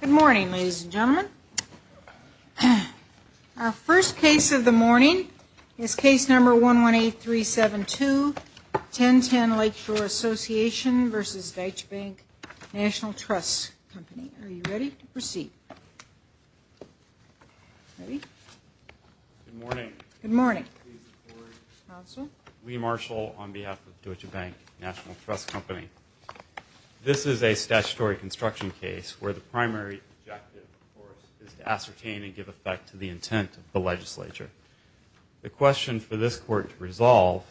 Good morning, ladies and gentlemen. Our first case of the morning is case number 118372, 1010 Lake Shore Association v. Deutsche Bank National Trust Company. Are you ready to proceed? Ready? Good morning. Good morning. Please report. Counsel. Lee Marshall on behalf of Deutsche Bank National Trust Company. This is a statutory construction case where the primary objective, of course, is to ascertain and give effect to the intent of the legislature. The question for this court to resolve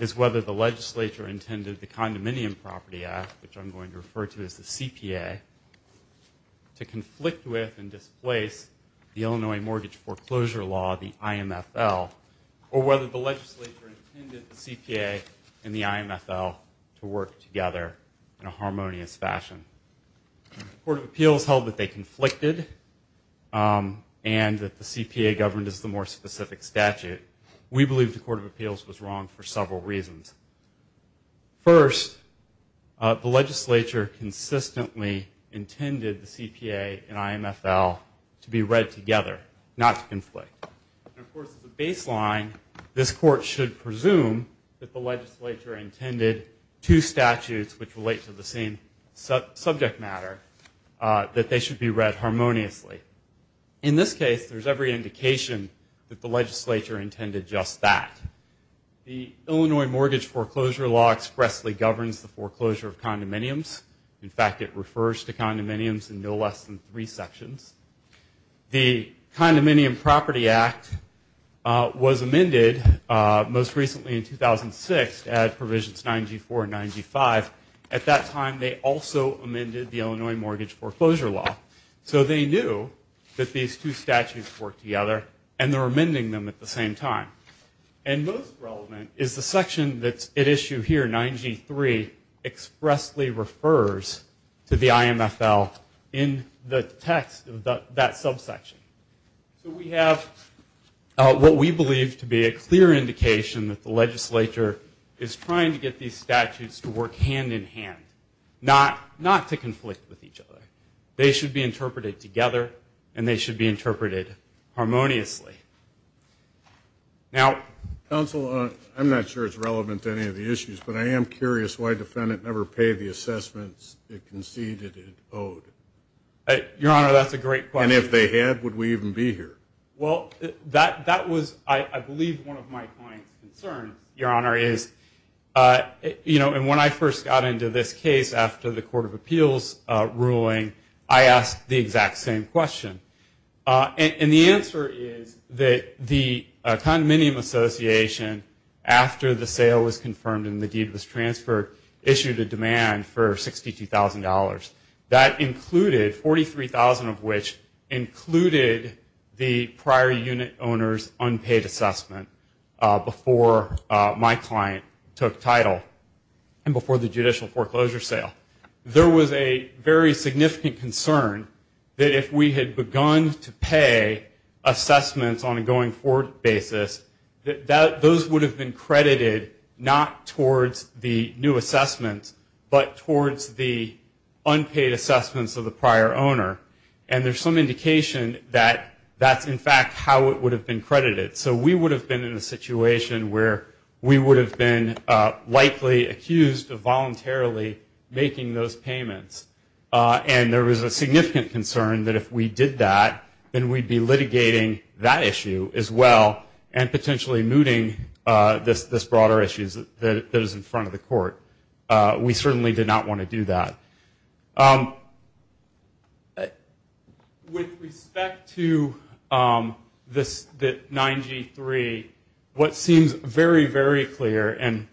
is whether the legislature intended the Condominium Property Act, which I'm going to refer to as the CPA, to conflict with and displace the Illinois Mortgage Foreclosure Law, the IMFL, or whether the legislature intended the CPA and the IMFL to work together in a harmonious fashion. The Court of Appeals held that they conflicted and that the CPA governed as the more specific statute. We believe the Court of Appeals was wrong for several reasons. First, the legislature consistently intended the CPA and IMFL to be read together, not to conflict. And, of course, as a baseline, this court should presume that the legislature intended two statutes which relate to the same subject matter, that they should be read harmoniously. In this case, there's every indication that the legislature intended just that. The Illinois Mortgage Foreclosure Law expressly governs the foreclosure of condominiums. In fact, it refers to condominiums in no less than three sections. The Condominium Property Act was amended most recently in 2006 at Provisions 9G4 and 9G5. At that time, they also amended the Illinois Mortgage Foreclosure Law. So they knew that these two statutes worked together, and they were amending them at the same time. And most relevant is the section that's at issue here, 9G3, expressly refers to the IMFL in the text of that subsection. So we have what we believe to be a clear indication that the legislature is trying to get these statutes to work hand-in-hand, not to conflict with each other. They should be interpreted together, and they should be interpreted harmoniously. Now, counsel, I'm not sure it's relevant to any of the issues, but I am curious why defendant never paid the assessments it conceded it owed. Your Honor, that's a great question. And if they had, would we even be here? Well, that was, I believe, one of my client's concerns, Your Honor, is, you know, and when I first got into this case after the Court of Appeals ruling, I asked the exact same question. And the answer is that the Condominium Association, after the sale was confirmed and the deed was transferred, issued a demand for $62,000. That included, 43,000 of which included the prior unit owner's unpaid assessment before my client took title and before the judicial foreclosure sale. There was a very significant concern that if we had begun to pay assessments on a going-forward basis, that those would have been credited not towards the new assessments, but towards the unpaid assessments of the prior owner. And there's some indication that that's, in fact, how it would have been credited. So we would have been in a situation where we would have been likely accused of voluntarily making those payments. And there was a significant concern that if we did that, then we'd be litigating that issue as well and potentially mooting this broader issue that is in front of the court. We certainly did not want to do that. With respect to the 9G-3, what seems very, very clear, and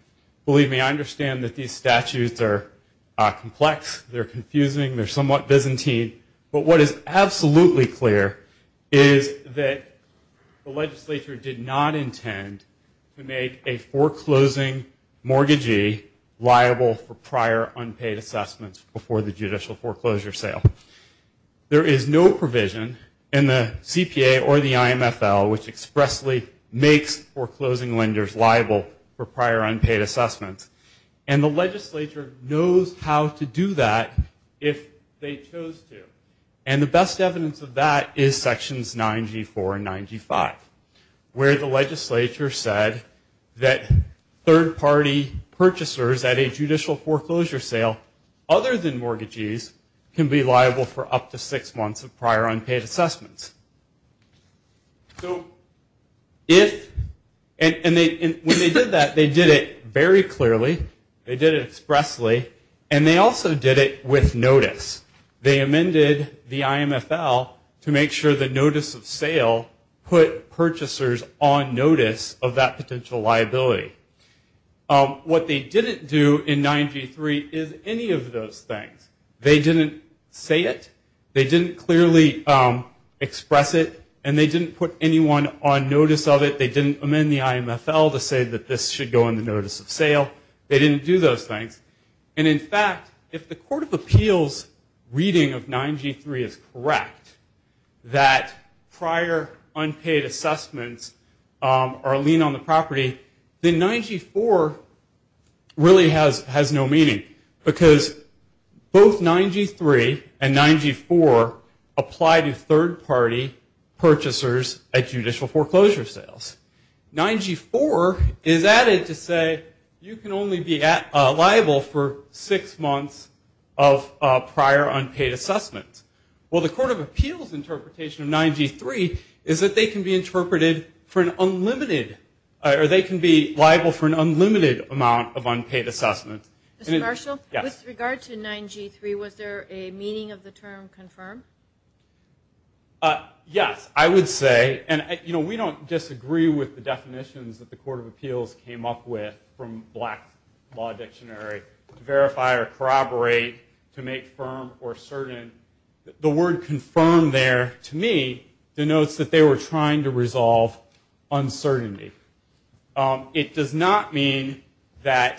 believe me, I understand that these statutes are complex, they're confusing, they're somewhat Byzantine, but what is absolutely clear is that the legislature did not intend to make a foreclosing mortgagee liable for prior unpaid assessments before the judicial foreclosure sale. There is no provision in the CPA or the IMFL which expressly makes foreclosing lenders liable for prior unpaid assessments. And the legislature knows how to do that if they chose to. And the best evidence of that is sections 9G-4 and 9G-5, where the legislature said that third-party purchasers at a judicial foreclosure sale other than mortgagees can be liable for up to six months of prior unpaid assessments. And when they did that, they did it very clearly, they did it expressly, and they also did it with notice. They amended the IMFL to make sure the notice of sale put purchasers on notice of that potential liability. What they didn't do in 9G-3 is any of those things. They didn't say it. They didn't clearly express it, and they didn't put anyone on notice of it. They didn't amend the IMFL to say that this should go on the notice of sale. They didn't do those things. And, in fact, if the Court of Appeals' reading of 9G-3 is correct, that prior unpaid assessments are a lien on the property, then 9G-4 really has no meaning. Because both 9G-3 and 9G-4 apply to third-party purchasers at judicial foreclosure sales. 9G-4 is added to say you can only be liable for six months of prior unpaid assessments. Well, the Court of Appeals' interpretation of 9G-3 is that they can be interpreted for an unlimited or they can be liable for an unlimited amount of unpaid assessments. Mr. Marshall, with regard to 9G-3, was there a meaning of the term confirmed? Yes, I would say. We don't disagree with the definitions that the Court of Appeals came up with from Black Law Dictionary to verify or corroborate, to make firm or certain. The word confirmed there, to me, denotes that they were trying to resolve uncertainty. It does not mean that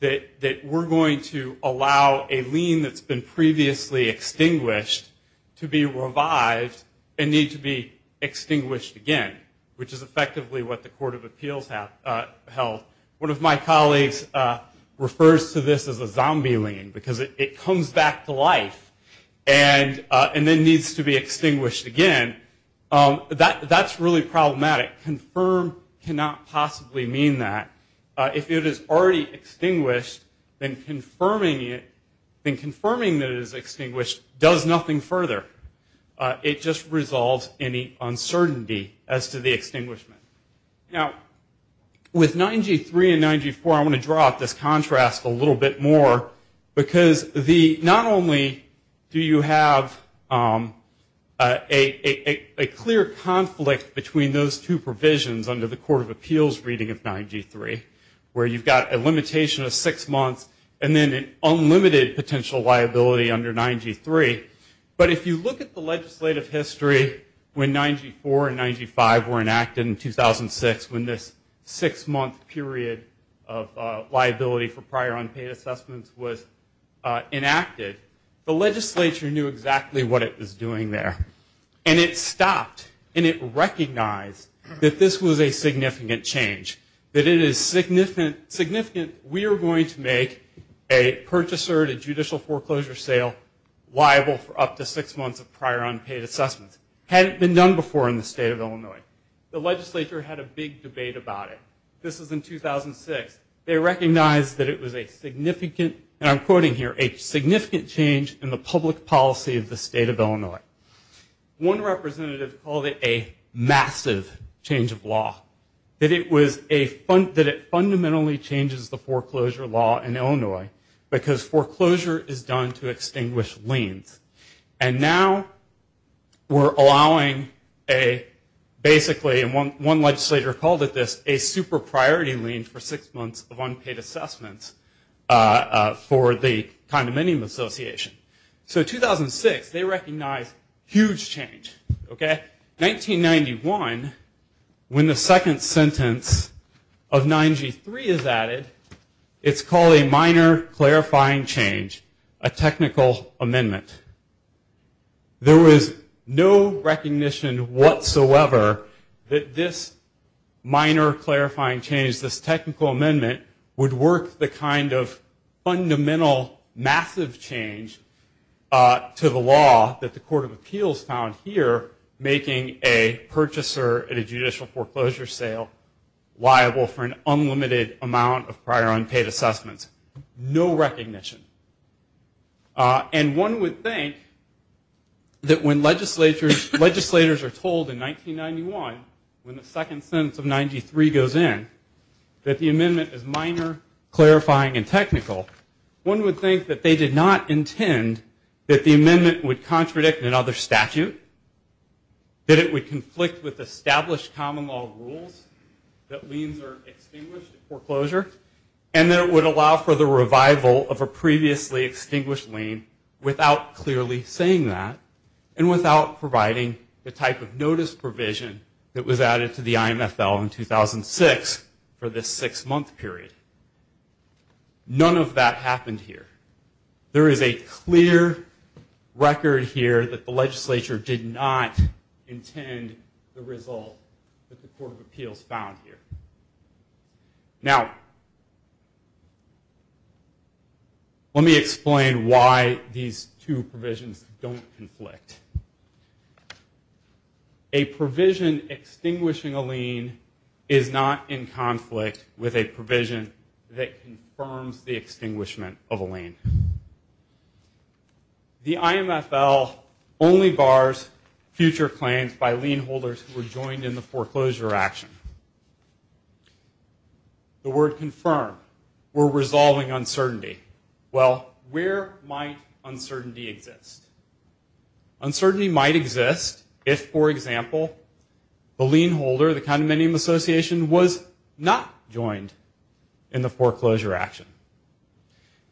we're going to allow a lien that's been previously extinguished to be revived and need to be extinguished again, which is effectively what the Court of Appeals held. One of my colleagues refers to this as a zombie lien because it comes back to life and then needs to be extinguished again. That's really problematic. Confirm cannot possibly mean that. If it is already extinguished, then confirming that it is extinguished does nothing further. It just resolves any uncertainty as to the extinguishment. Now, with 9G-3 and 9G-4, I want to draw out this contrast a little bit more because not only do you have a clear conflict between those two provisions under the Court of Appeals reading of 9G-3, where you've got a limitation of six months and then an unlimited potential liability under 9G-3, but if you look at the legislative history when 9G-4 and 9G-5 were enacted in 2006, when this six-month period of liability for prior unpaid assessments was enacted, the legislature knew exactly what it was doing there. And it stopped, and it recognized that this was a significant change, that it is significant we are going to make a purchaser to judicial foreclosure sale liable for up to six months of prior unpaid assessments. The legislature had a big debate about it. This was in 2006. They recognized that it was a significant, and I'm quoting here, a significant change in the public policy of the state of Illinois. One representative called it a massive change of law, that it fundamentally changes the foreclosure law in Illinois because foreclosure is done to extinguish liens. And now we're allowing a basically, and one legislator called it this, a super priority lien for six months of unpaid assessments for the condominium association. So 2006, they recognized huge change. 1991, when the second sentence of 9G-3 is added, it's called a minor clarifying change, a technical amendment. There was no recognition whatsoever that this minor clarifying change, this technical amendment would work the kind of fundamental massive change to the law that the court of appeals found here making a purchaser at a judicial foreclosure sale liable for an unlimited amount of prior unpaid assessments. No recognition. And one would think that when legislators are told in 1991, when the second sentence of 9G-3 goes in, that the amendment is minor, clarifying, and technical, one would think that they did not intend that the amendment would contradict another statute, that it would conflict with established common law rules, that liens are extinguished at foreclosure, and that it would allow for the revival of a previously extinguished lien without clearly saying that and without providing the type of notice provision that was added to the IMFL in 2006 for this six-month period. None of that happened here. There is a clear record here that the legislature did not intend the result that the court of appeals found here. Now, let me explain why these two provisions don't conflict. A provision extinguishing a lien is not in conflict with a provision that confirms the extinguishment of a lien. The IMFL only bars future claims by lien holders who are joined in the foreclosure action. The word confirm, we're resolving uncertainty. Well, where might uncertainty exist? Uncertainty might exist if, for example, the lien holder, the condominium association, was not joined in the foreclosure action.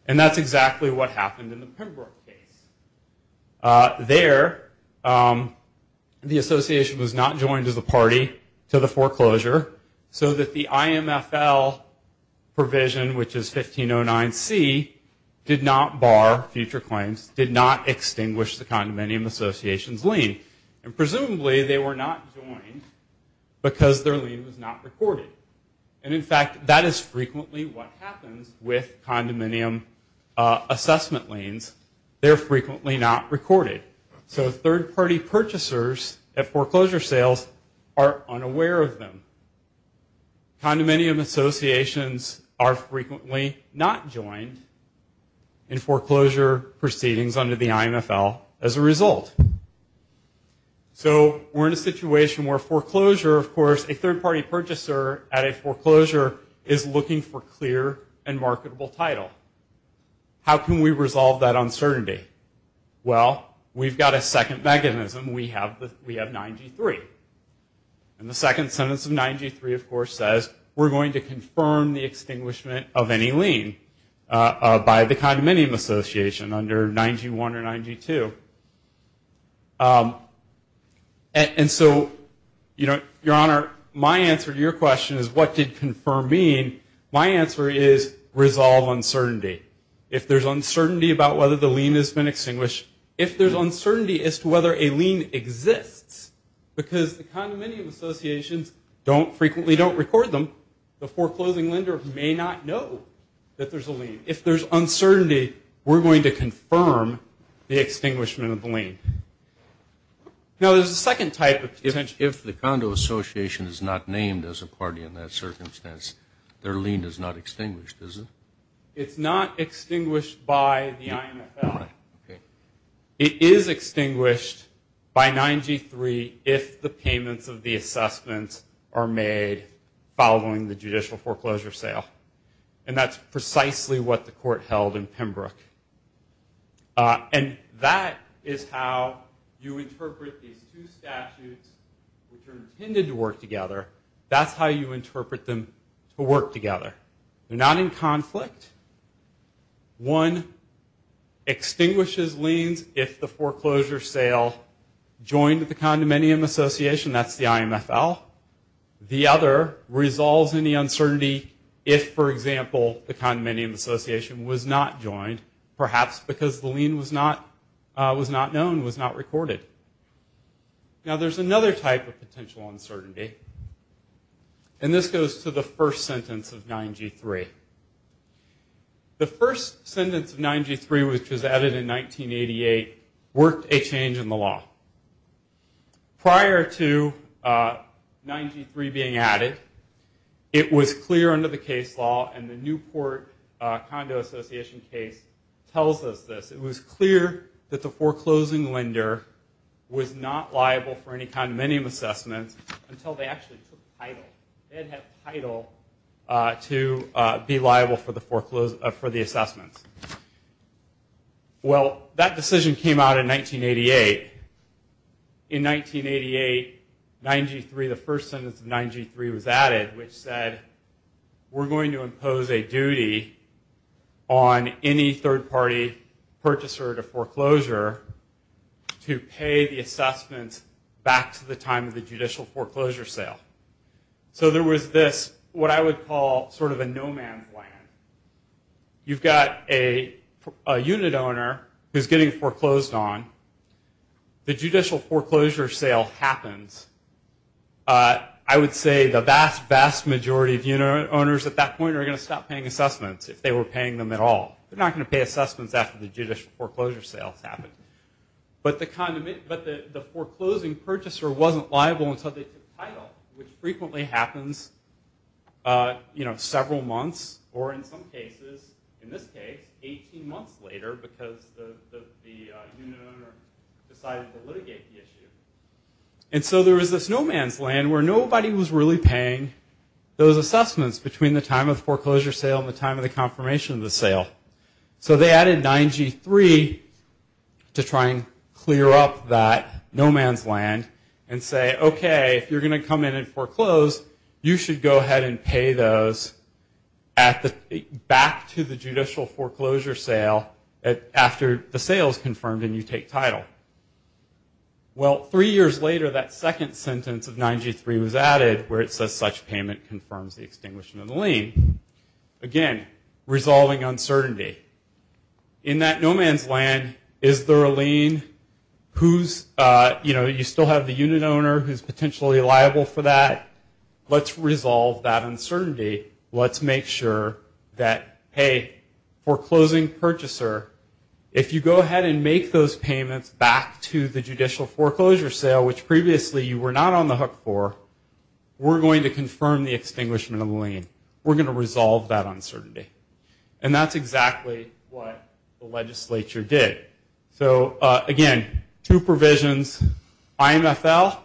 And that's exactly what happened in the Pembroke case. There, the association was not joined as a party to the foreclosure so that the IMFL provision, which is 1509C, did not bar future claims, did not extinguish the condominium association's lien. And presumably, they were not joined because their lien was not recorded. And, in fact, that is frequently what happens with condominium assessment liens. They're frequently not recorded. So third-party purchasers at foreclosure sales are unaware of them. Condominium associations are frequently not joined in foreclosure proceedings under the IMFL as a result. So we're in a situation where foreclosure, of course, a third-party purchaser at a foreclosure is looking for clear and marketable title. How can we resolve that uncertainty? Well, we've got a second mechanism. We have 9G3. And the second sentence of 9G3, of course, says we're going to confirm the extinguishment of any lien by the condominium association under 9G1 or 9G2. And so, Your Honor, my answer to your question is what did confirm mean? My answer is resolve uncertainty. If there's uncertainty about whether the lien has been extinguished, if there's uncertainty as to whether a lien exists, because the condominium associations frequently don't record them, if there's uncertainty, we're going to confirm the extinguishment of the lien. Now, there's a second type of potential. If the condo association is not named as a party in that circumstance, their lien is not extinguished, is it? It's not extinguished by the IMFL. It is extinguished by 9G3 if the payments of the assessments are made following the judicial foreclosure sale. And that's precisely what the court held in Pembroke. And that is how you interpret these two statutes which are intended to work together. That's how you interpret them to work together. They're not in conflict. One extinguishes liens if the foreclosure sale joined the condominium association. That's the IMFL. The other resolves any uncertainty if, for example, the condominium association was not joined, perhaps because the lien was not known, was not recorded. Now, there's another type of potential uncertainty, and this goes to the first sentence of 9G3. The first sentence of 9G3, which was added in 1988, worked a change in the law. Prior to 9G3 being added, it was clear under the case law, and the Newport Condo Association case tells us this. It was clear that the foreclosing lender was not liable for any condominium assessments until they actually took title. They had to have title to be liable for the assessments. Well, that decision came out in 1988. In 1988, 9G3, the first sentence of 9G3 was added, which said we're going to impose a duty on any third-party purchaser to foreclosure to pay the assessments back to the time of the judicial foreclosure sale. So there was this, what I would call sort of a no-man's land. You've got a unit owner who's getting foreclosed on. The judicial foreclosure sale happens. I would say the vast, vast majority of unit owners at that point are going to stop paying assessments if they were paying them at all. They're not going to pay assessments after the judicial foreclosure sales happen. But the foreclosing purchaser wasn't liable until they took title, which frequently happens several months or in some cases, in this case, 18 months later because the unit owner decided to litigate the issue. And so there was this no-man's land where nobody was really paying those assessments between the time of the foreclosure sale and the time of the confirmation of the sale. So they added 9G3 to try and clear up that no-man's land and say, okay, if you're going to come in and foreclose, you should go ahead and pay those back to the judicial foreclosure sale after the sale is confirmed and you take title. Well, three years later, that second sentence of 9G3 was added where it says such payment confirms the extinguishing of the lien. Again, resolving uncertainty. In that no-man's land, is there a lien? You still have the unit owner who's potentially liable for that. Let's resolve that uncertainty. Let's make sure that, hey, foreclosing purchaser, if you go ahead and make those payments back to the judicial foreclosure sale, which previously you were not on the hook for, we're going to confirm the extinguishment of the lien. We're going to resolve that uncertainty. And that's exactly what the legislature did. So, again, two provisions. IMFL,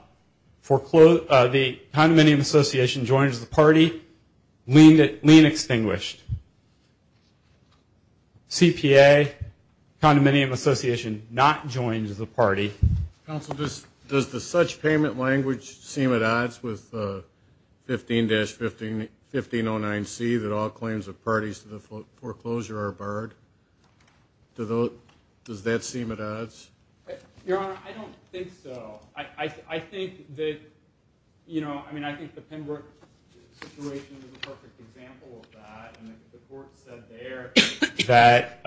the condominium association joins the party. Lien extinguished. CPA, condominium association not joins the party. Counsel, does the such payment language seem at odds with 15-1509C that all claims of parties to the foreclosure are barred? Does that seem at odds? Your Honor, I don't think so. I think that, you know, I mean, I think the Pembroke situation is a perfect example of that. And the court said there that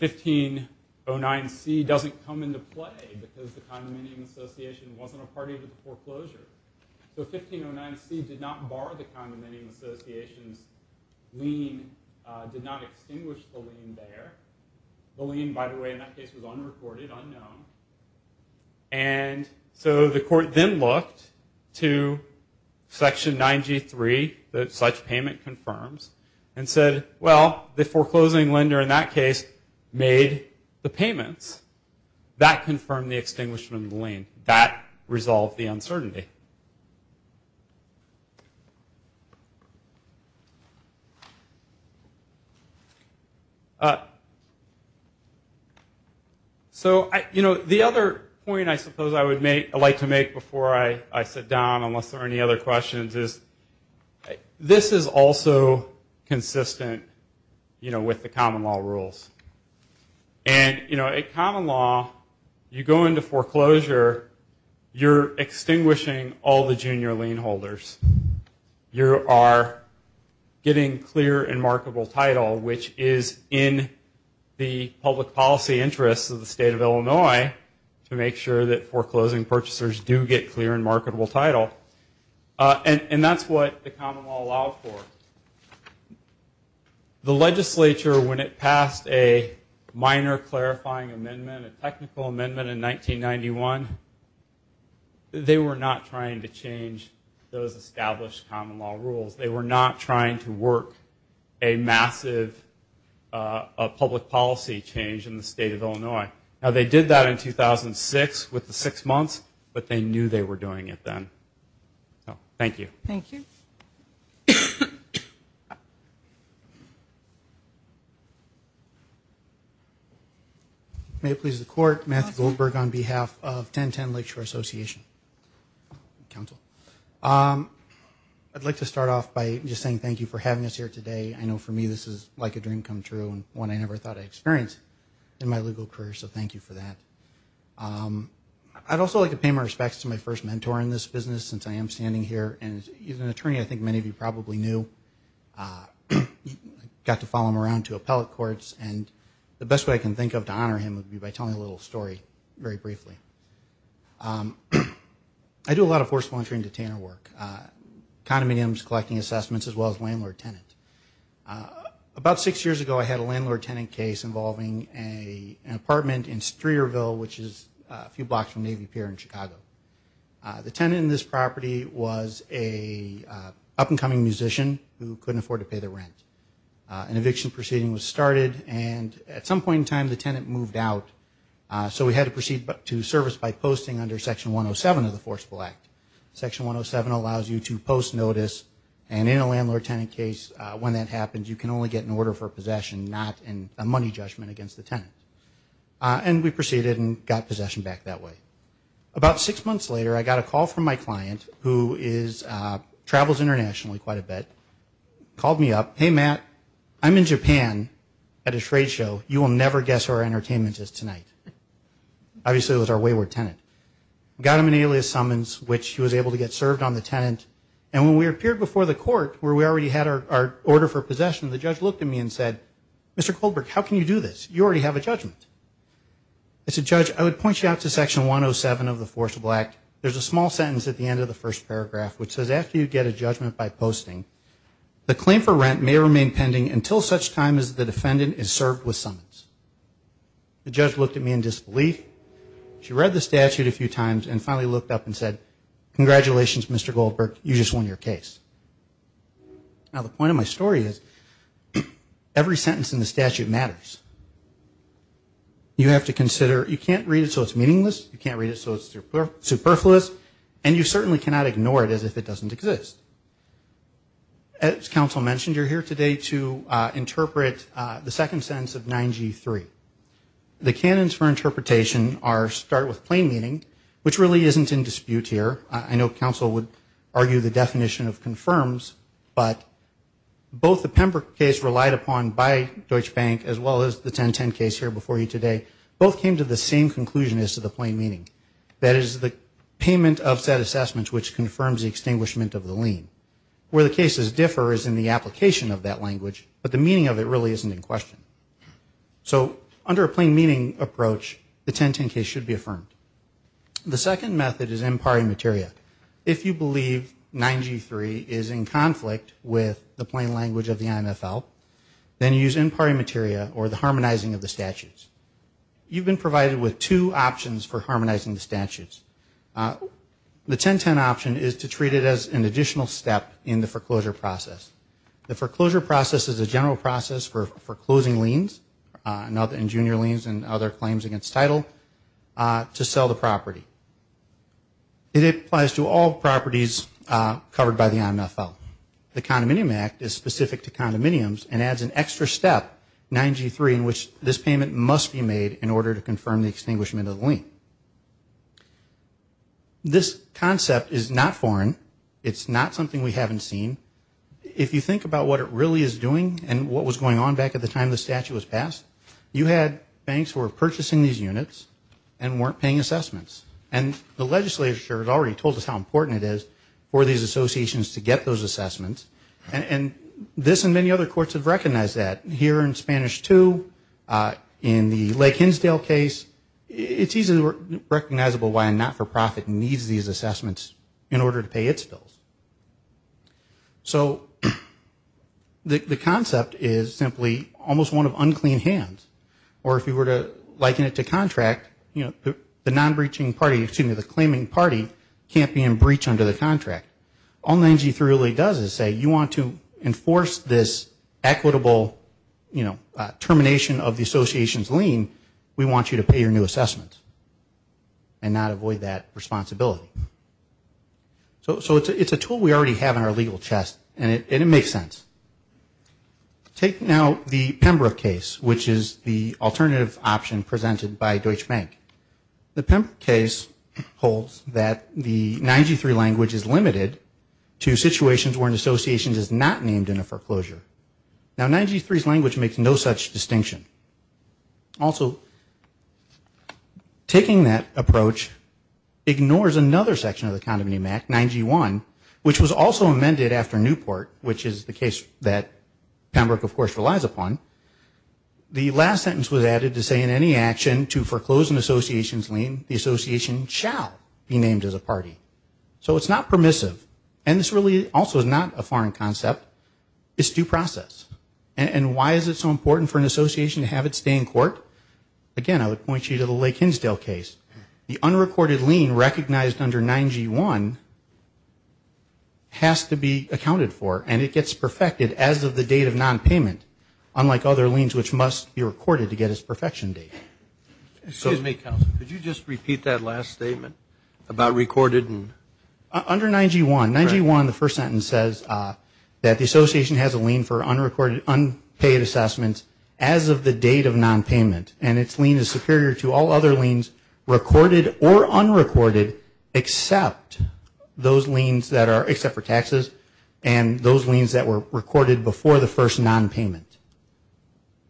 1509C doesn't come into play because the condominium association wasn't a party to the foreclosure. So 1509C did not bar the condominium association's lien and did not extinguish the lien there. The lien, by the way, in that case was unreported, unknown. And so the court then looked to Section 9G3, that such payment confirms, and said, well, the foreclosing lender in that case made the payments. That confirmed the extinguishment of the lien. And that resolved the uncertainty. So, you know, the other point I suppose I would like to make before I sit down, unless there are any other questions, is this is also consistent, you know, with the common law rules. And, you know, a common law, you go into foreclosure, you're extinguishing all the junior lien holders. You are getting clear and marketable title, which is in the public policy interests of the state of Illinois to make sure that foreclosing purchasers do get clear and marketable title. And that's what the common law allowed for. The legislature, when it passed a minor clarifying amendment, a technical amendment in 1991, they were not trying to change those established common law rules. They were not trying to work a massive public policy change in the state of Illinois. Now, they did that in 2006 with the six months, but they knew they were doing it then. Thank you. Thank you. May it please the Court, Matthew Goldberg on behalf of 1010 Lakeshore Association Council. I'd like to start off by just saying thank you for having us here today. I know for me this is like a dream come true and one I never thought I'd experience in my legal career, so thank you for that. I'd also like to pay my respects to my first mentor in this business, since I am standing here. He's an attorney I think many of you probably knew. I got to follow him around to appellate courts, and the best way I can think of to honor him would be by telling a little story very briefly. I do a lot of foreclosure and detainer work, condominiums, collecting assessments, as well as landlord-tenant. About six years ago I had a landlord-tenant case involving an apartment in Streerville, which is a few blocks from Navy Pier in Chicago. The tenant in this property was an up-and-coming musician who couldn't afford to pay the rent. An eviction proceeding was started, and at some point in time the tenant moved out, so we had to proceed to service by posting under Section 107 of the Forcible Act. Section 107 allows you to post notice, and in a landlord-tenant case when that happens, you can only get an order for possession, not a money judgment against the tenant. And we proceeded and got possession back that way. About six months later I got a call from my client, who travels internationally quite a bit, called me up, Hey, Matt, I'm in Japan at a trade show. You will never guess who our entertainer is tonight. Obviously it was our wayward tenant. We got him an alias summons, which he was able to get served on the tenant, and when we appeared before the court, where we already had our order for possession, the judge looked at me and said, Mr. Kohlberg, how can you do this? You already have a judgment. I said, Judge, I would point you out to Section 107 of the Forcible Act. There's a small sentence at the end of the first paragraph, which says after you get a judgment by posting, the claim for rent may remain pending until such time as the defendant is served with summons. The judge looked at me in disbelief. She read the statute a few times and finally looked up and said, Congratulations, Mr. Kohlberg, you just won your case. Now the point of my story is, every sentence in the statute matters. You have to consider, you can't read it so it's meaningless, you can't read it so it's superfluous, and you certainly cannot ignore it as if it doesn't exist. As counsel mentioned, you're here today to interpret the second sentence of 9G3. The canons for interpretation start with plain meaning, which really isn't in dispute here. I know counsel would argue the definition of confirms, but both the Pembroke case relied upon by Deutsche Bank, as well as the 1010 case here before you today, both came to the same conclusion as to the plain meaning. That is the payment of said assessment, which confirms the extinguishment of the lien. Where the cases differ is in the application of that language, but the meaning of it really isn't in question. So under a plain meaning approach, the 1010 case should be affirmed. The second method is impari materia. If you believe 9G3 is in conflict with the plain language of the IMFL, then use impari materia or the harmonizing of the statutes. You've been provided with two options for harmonizing the statutes. The 1010 option is to treat it as an additional step in the foreclosure process. The foreclosure process is a general process for closing liens, and junior liens and other claims against title, to sell the property. It applies to all properties covered by the IMFL. The Condominium Act is specific to condominiums and adds an extra step, 9G3, in which this payment must be made in order to confirm the extinguishment of the lien. This concept is not foreign. It's not something we haven't seen. If you think about what it really is doing and what was going on back at the time the statute was passed, you had banks who were purchasing these units and weren't paying assessments. And the legislature has already told us how important it is for these associations to get those assessments. And this and many other courts have recognized that. Here in Spanish II, in the Lake Hinsdale case, it's easily recognizable why a not-for-profit needs these assessments in order to pay its bills. So the concept is simply almost one of unclean hands. Or if you were to liken it to contract, the non-breaching party, excuse me, the claiming party, can't be in breach under the contract. All 9G3 really does is say you want to enforce this equitable termination of the association's lien, we want you to pay your new assessments and not avoid that responsibility. So it's a tool we already have in our legal chest and it makes sense. Take now the Pembroke case, which is the alternative option presented by Deutsche Bank. The Pembroke case holds that the 9G3 language is limited to situations where an association is not named in a foreclosure. Now 9G3's language makes no such distinction. Also, taking that approach ignores another section of the Condominium Act, 9G1, which was also amended after Newport, which is the case that Pembroke, of course, relies upon. The last sentence was added to say in any action to foreclose an association's lien, the association shall be named as a party. So it's not permissive. And this really also is not a foreign concept. It's due process. And why is it so important for an association to have it stay in court? Again, I would point you to the Lake Hinsdale case. The unrecorded lien recognized under 9G1 has to be accounted for and it gets perfected as of the date of nonpayment, unlike other liens which must be recorded to get its perfection date. Excuse me, counsel, could you just repeat that last statement about recorded? Under 9G1, 9G1, the first sentence says that the association has a lien for unpaid assessments as of the date of nonpayment, and its lien is superior to all other liens recorded or unrecorded except for taxes and those liens that were recorded before the first nonpayment.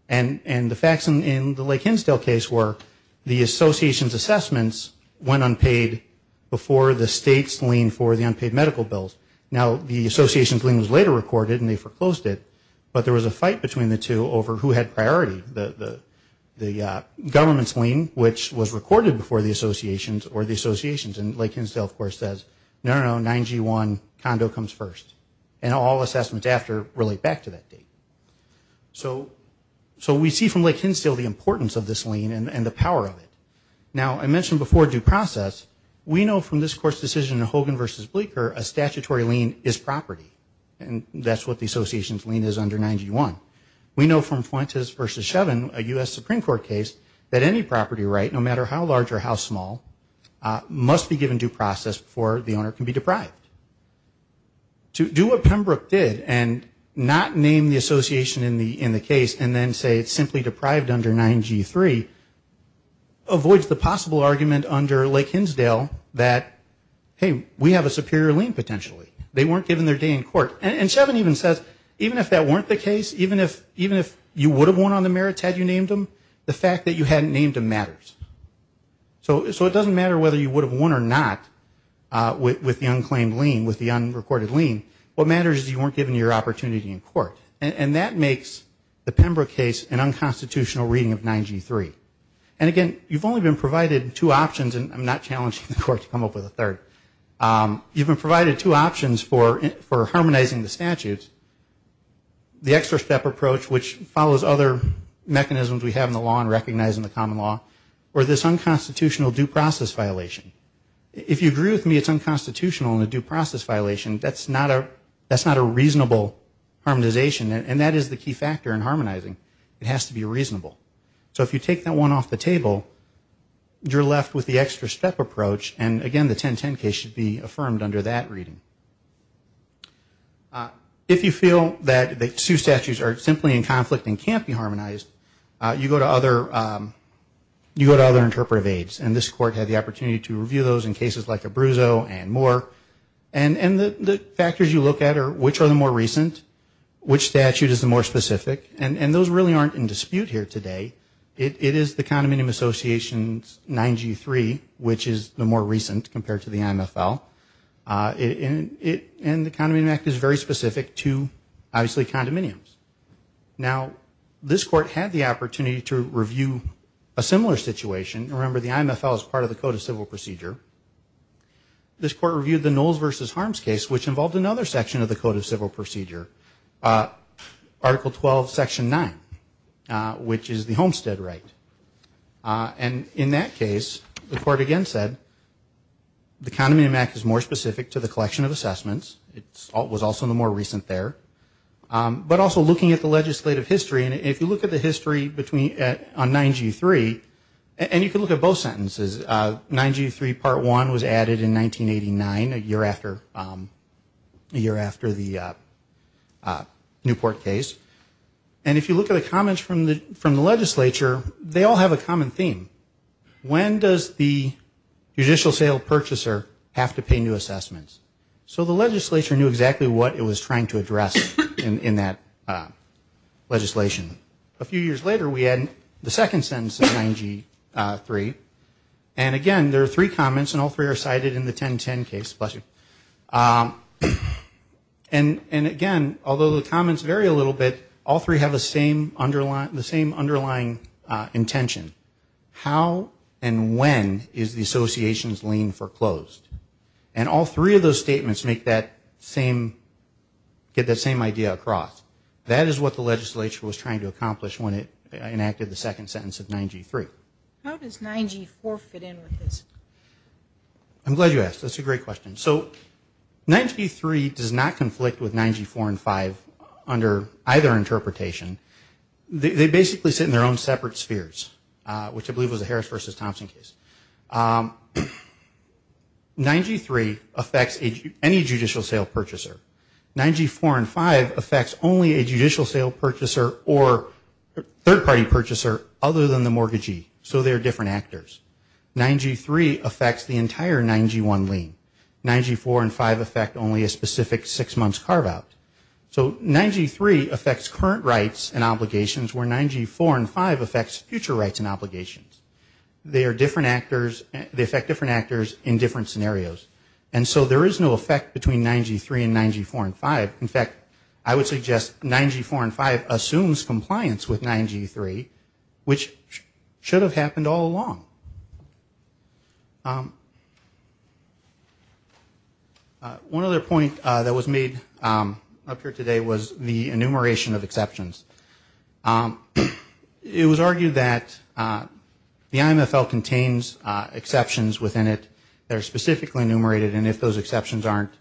And the facts in the Lake Hinsdale case were the association's assessments went unpaid before the state's lien for the unpaid medical bills. Now, the association's lien was later recorded and they foreclosed it, but there was a fight between the two over who had priority, the government's lien which was recorded before the association's or the association's, and Lake Hinsdale, of course, says, no, no, no, 9G1, condo comes first, and all assessments after relate back to that date. So we see from Lake Hinsdale the importance of this lien and the power of it. Now, I mentioned before due process, we know from this Court's decision in Hogan v. Bleeker, a statutory lien is property, and that's what the association's lien is under 9G1. We know from Fuentes v. Shevin, a U.S. Supreme Court case, that any property right, no matter how large or how small, must be given due process before the owner can be deprived. To do what Pembroke did and not name the association in the case and then say it's simply deprived under 9G3 avoids the possible argument under Lake Hinsdale that, hey, we have a superior lien potentially. They weren't given their day in court. And Shevin even says, even if that weren't the case, even if you would have won on the merits had you named them, the fact that you hadn't named them matters. So it doesn't matter whether you would have won or not with the unclaimed lien, with the unrecorded lien. What matters is you weren't given your opportunity in court. And that makes the Pembroke case an unconstitutional reading of 9G3. And, again, you've only been provided two options, and I'm not challenging the court to come up with a third. You've been provided two options for harmonizing the statutes. The extra step approach, which follows other mechanisms we have in the law and recognize in the common law, or this unconstitutional due process violation. If you agree with me it's unconstitutional and a due process violation, that's not a reasonable harmonization. And that is the key factor in harmonizing. It has to be reasonable. So if you take that one off the table, you're left with the extra step approach. And, again, the 1010 case should be affirmed under that reading. If you feel that the two statutes are simply in conflict and can't be harmonized, you go to other interpretive aides. And this Court had the opportunity to review those in cases like Abruzzo and more. And the factors you look at are which are the more recent, which statute is the more specific. And those really aren't in dispute here today. It is the Condominium Association's 9G3, which is the more recent compared to the IMFL. And the Condominium Act is very specific to, obviously, condominiums. Now, this Court had the opportunity to review a similar situation. Remember, the IMFL is part of the Code of Civil Procedure. This Court reviewed the Knowles v. Harms case, which involved another section of the Code of Civil Procedure, Article 12, Section 9, which is the Homestead right. And in that case, the Court again said, the Condominium Act is more specific to the collection of assessments. It was also the more recent there. But also looking at the legislative history, and if you look at the history on 9G3, and you can look at both sentences, 9G3 Part 1 was added in 1989, a year after the Newport case. And if you look at the comments from the legislature, they all have a common theme. When does the judicial sale purchaser have to pay new assessments? So the legislature knew exactly what it was trying to address in that legislation. A few years later, we had the second sentence of 9G3. And again, there are three comments, and all three are cited in the 1010 case. And again, although the comments vary a little bit, all three have the same underlying intention. How and when is the association's lien foreclosed? And all three of those statements make that same, get that same idea across. That is what the legislature was trying to accomplish when it enacted the second sentence of 9G3. How does 9G4 fit in with this? I'm glad you asked. That's a great question. So 9G3 does not conflict with 9G4 and 5 under either interpretation. They basically sit in their own separate spheres, which I believe was the Harris v. Thompson case. 9G3 affects any judicial sale purchaser. 9G4 and 5 affects only a judicial sale purchaser or third-party purchaser other than the mortgagee. So they're different actors. 9G3 affects the entire 9G1 lien. 9G4 and 5 affect only a specific six-months carve-out. So 9G3 affects current rights and obligations, where 9G4 and 5 affects future rights and obligations. They affect different actors in different scenarios. And so there is no effect between 9G3 and 9G4 and 5. In fact, I would suggest 9G4 and 5 assumes compliance with 9G3, which should have happened all along. One other point that was made up here today was the enumeration of exceptions. It was argued that the IMFL contains exceptions within it that are specifically enumerated, and if those exceptions aren't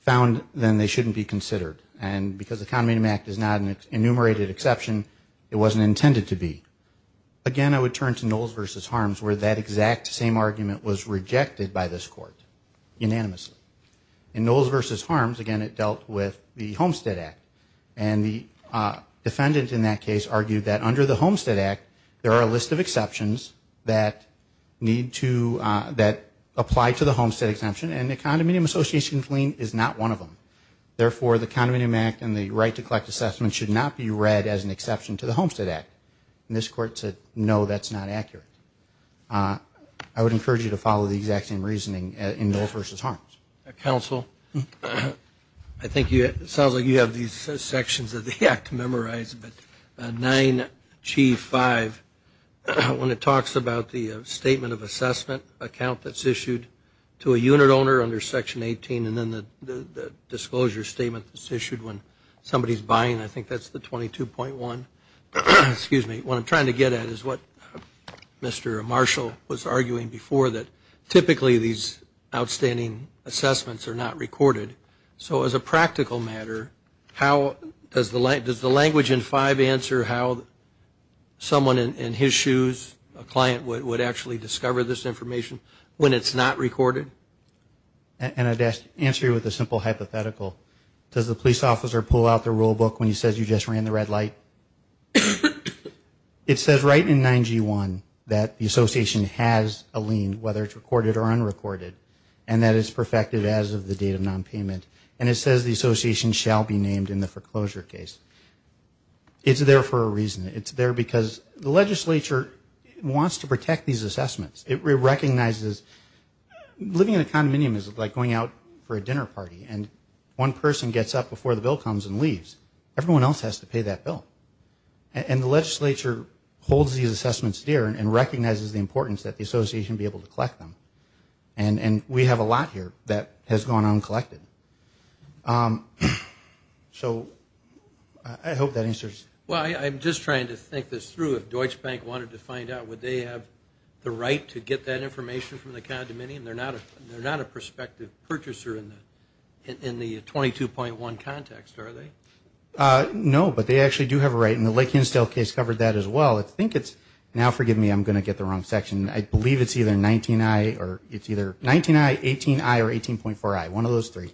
found, then they shouldn't be considered. And because the Economy Act is not an enumerated exception, it wasn't intended to be. Again, I would turn to Knowles v. Harms, where that exact same argument was rejected by this Court unanimously. In Knowles v. Harms, again, it dealt with the Homestead Act. And the defendant in that case argued that under the Homestead Act, there are a list of exceptions that need to – that apply to the Homestead Exemption, and the Condominium Association Claim is not one of them. Therefore, the Condominium Act and the Right to Collect Assessment should not be read as an exception to the Homestead Act. And this Court said, no, that's not accurate. I would encourage you to follow the exact same reasoning in Knowles v. Harms. Counsel, I think it sounds like you have these sections of the Act memorized, but 9G5, when it talks about the Statement of Assessment account that's issued to a unit owner under Section 18 and then the Disclosure Statement that's issued when somebody is buying, I think that's the 22.1. What I'm trying to get at is what Mr. Marshall was arguing before, that typically these outstanding assessments are not recorded. So as a practical matter, does the language in 5 answer how someone in his shoes, a client, would actually discover this information when it's not recorded? And I'd answer you with a simple hypothetical. Does the police officer pull out the rule book when he says, you just ran the red light? It says right in 9G1 that the association has a lien, whether it's recorded or unrecorded, and that it's perfected as of the date of nonpayment. And it says the association shall be named in the foreclosure case. It's there for a reason. It's there because the legislature wants to protect these assessments. It recognizes living in a condominium is like going out for a dinner party, and one person gets up before the bill comes and leaves. Everyone else has to pay that bill. And the legislature holds these assessments dear and recognizes the importance that the association be able to collect them. And we have a lot here that has gone uncollected. So I hope that answers. Well, I'm just trying to think this through. If Deutsche Bank wanted to find out, would they have the right to get that information from the condominium? They're not a prospective purchaser in the 22.1 context, are they? No, but they actually do have a right, and the Lake Hinstel case covered that as well. I think it's now, forgive me, I'm going to get the wrong section. I believe it's either 19I or 18.4I, one of those three,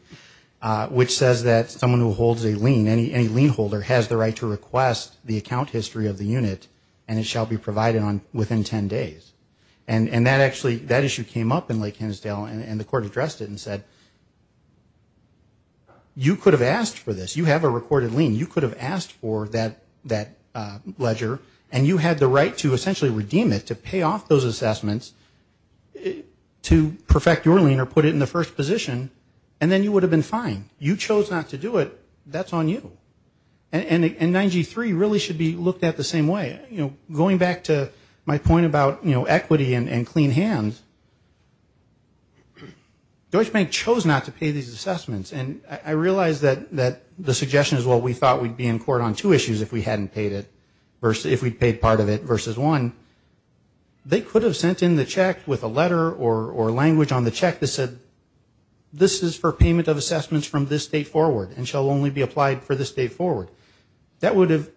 which says that someone who holds a lien, any lien holder, has the right to request the account history of the unit and it shall be provided on within 10 days. And that issue came up in Lake Hinstel, and the court addressed it and said, you could have asked for this. You have a recorded lien. You could have asked for that ledger, and you had the right to essentially redeem it, to pay off those assessments to perfect your lien or put it in the first position, and then you would have been fine. You chose not to do it. That's on you. And 9G3 really should be looked at the same way. Going back to my point about equity and clean hands, Deutsche Bank chose not to pay these assessments, and I realize that the suggestion is, well, we thought we'd be in court on two issues if we hadn't paid it, if we'd paid part of it versus one. They could have sent in the check with a letter or language on the check that said, this is for payment of assessments from this date forward and shall only be applied for this date forward. That would have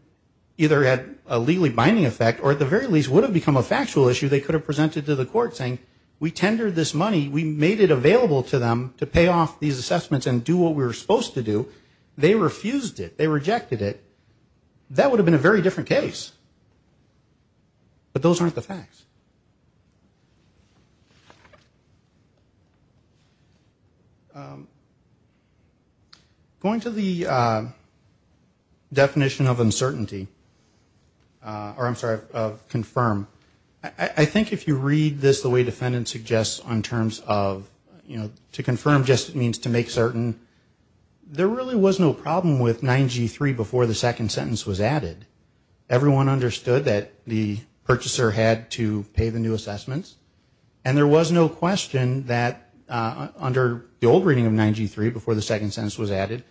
either had a legally binding effect or at the very least would have become a factual issue they could have presented to the court saying, we tendered this money, we made it available to them to pay off these assessments and do what we were supposed to do. They refused it. They rejected it. That would have been a very different case. But those aren't the facts. Going to the definition of uncertainty, or I'm sorry, of confirm, I think if you read this the way defendants suggest on terms of, you know, to confirm just means to make certain, there really was no problem with 9G3 before the second sentence was added. Everyone understood that the purchaser had to pay the new assessments and there was no question that under the old reading of 9G3, before the second sentence was added,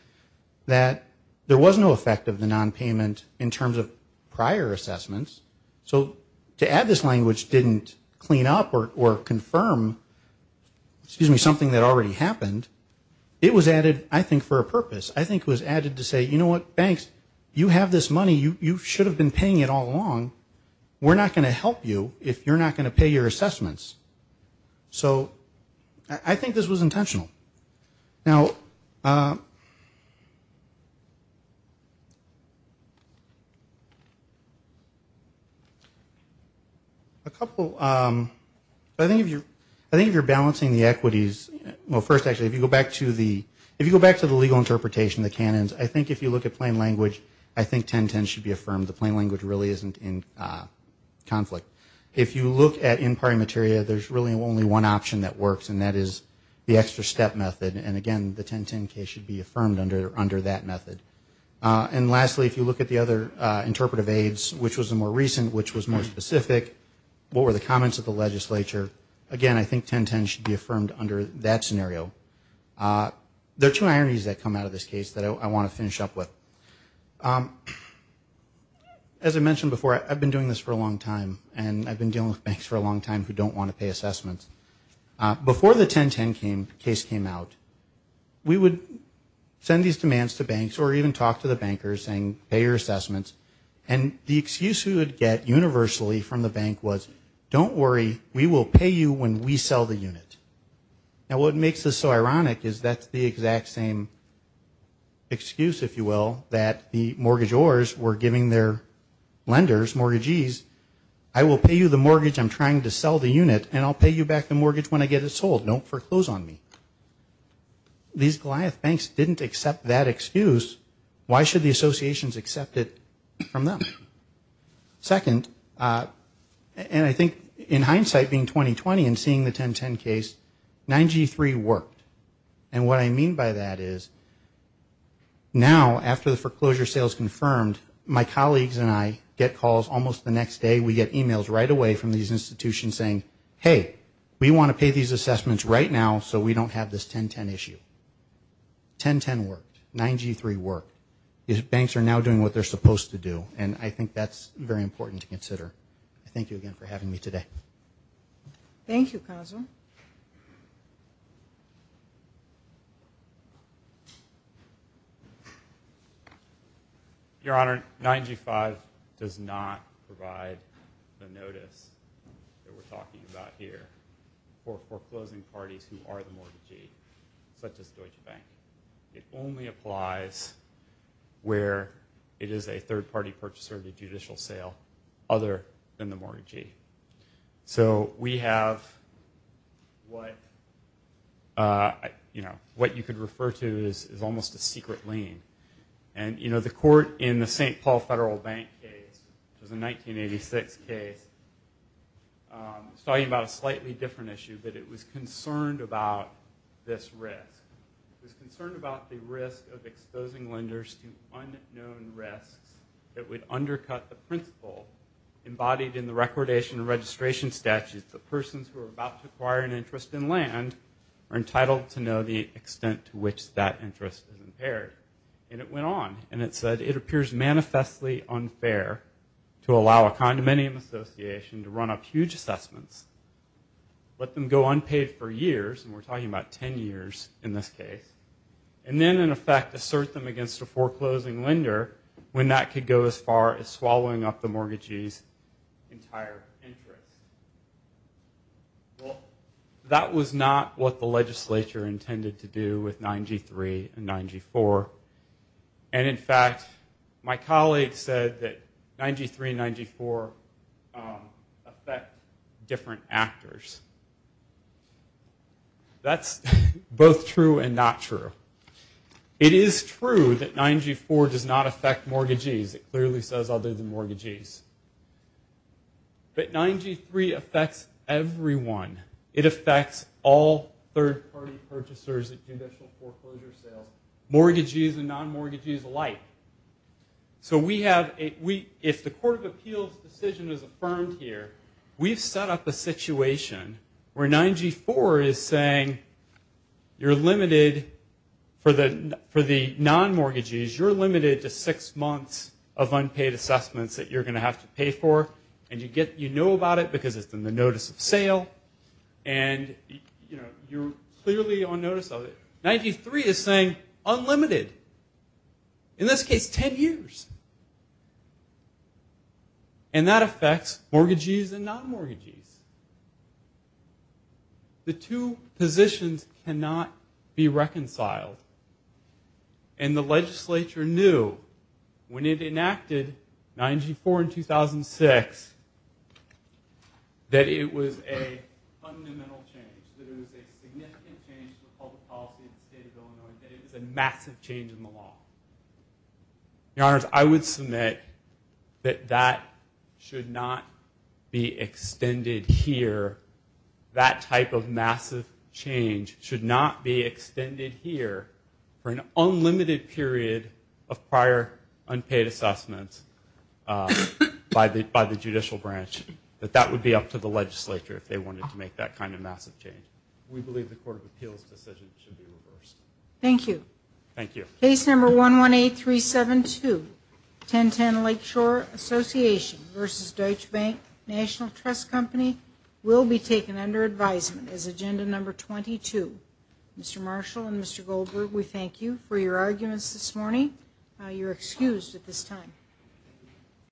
that there was no effect of the nonpayment in terms of prior assessments. So to add this language didn't clean up or confirm, excuse me, something that already happened. It was added, I think, for a purpose. I think it was added to say, you know what, banks, you have this money. You should have been paying it all along. We're not going to help you if you're not going to pay your assessments. So I think this was intentional. Now a couple, I think if you're balancing the equities, well first actually if you go back to the legal interpretation, the canons, I think if you look at plain language, I think 1010 should be affirmed. The plain language really isn't in conflict. If you look at in-party material, there's really only one option that works and that is the extra step method. And again, the 1010 case should be affirmed under that method. And lastly, if you look at the other interpretive aids, which was the more recent, which was more specific, what were the comments of the legislature, again, I think 1010 should be affirmed under that scenario. There are two ironies that come out of this case that I want to finish up with. As I mentioned before, I've been doing this for a long time and I've been dealing with banks for a long time who don't want to pay assessments. Before the 1010 case came out, we would send these demands to banks or even talk to the bankers saying, pay your assessments. And the excuse we would get universally from the bank was, don't worry, we will pay you when we sell the unit. Now what makes this so ironic is that's the exact same excuse, if you will, that the mortgagors were giving their lenders, mortgagees, I will pay you the mortgage I'm trying to sell the unit and I'll pay you back the mortgage when I get it sold. Don't foreclose on me. These Goliath banks didn't accept that excuse. Why should the associations accept it from them? Second, and I think in hindsight being 2020 and seeing the 1010 case, 9G3 worked. And what I mean by that is, now after the foreclosure sale is confirmed, my colleagues and I get calls almost the next day, we get emails right away from these institutions saying, hey, we want to pay these assessments right now so we don't have this 1010 issue. 1010 worked, 9G3 worked. Banks are now doing what they're supposed to do and I think that's very important to consider. Thank you again for having me today. Thank you, Counselor. Your Honor, 9G5 does not provide the notice that we're talking about here for foreclosing parties who are the mortgagee, such as Deutsche Bank. It only applies where it is a third-party purchaser of the judicial sale other than the mortgagee. So we have what you could refer to as almost a secret lien. And the court in the St. Paul Federal Bank case, which was a 1986 case, was talking about a slightly different issue, but it was concerned about this risk. It was concerned about the risk of exposing lenders to unknown risks that would undercut the principle embodied in the recordation and registration statute that persons who are about to acquire an interest in land are entitled to know the extent to which that interest is impaired. And it went on and it said it appears manifestly unfair to allow a condominium association to run up huge assessments, let them go unpaid for years, and we're talking about 10 years in this case, and then, in effect, assert them against a foreclosing lender when that could go as far as swallowing up the mortgagee's entire interest. Well, that was not what the legislature intended to do with 9G3 and 9G4. And, in fact, my colleague said that 9G3 and 9G4 affect different actors. That's both true and not true. It is true that 9G4 does not affect mortgagees. It clearly says other than mortgagees. But 9G3 affects everyone. It affects all third-party purchasers of conditional foreclosure sales, mortgagees and non-mortgagees alike. So if the Court of Appeals' decision is affirmed here, we've set up a situation where 9G4 is saying, you're limited for the non-mortgagees, you're limited to six months of unpaid assessments that you're going to have to pay for, and you know about it because it's in the notice of sale, and you're clearly on notice of it. 9G3 is saying unlimited. In this case, 10 years. And that affects mortgagees and non-mortgagees. The two positions cannot be reconciled. And the legislature knew when it enacted 9G4 in 2006 that it was a fundamental change, that it was a significant change to the public policy of the state of Illinois, that it was a massive change in the law. Your Honors, I would submit that that should not be extended here. That type of massive change should not be extended here for an unlimited period of prior unpaid assessments by the judicial branch. That that would be up to the legislature if they wanted to make that kind of massive change. We believe the Court of Appeals' decision should be reversed. Thank you. Thank you. Case number 118372, 1010 Lakeshore Association v. Deutsche Bank National Trust Company, will be taken under advisement as agenda number 22. Mr. Marshall and Mr. Goldberg, we thank you for your arguments this morning. You're excused at this time.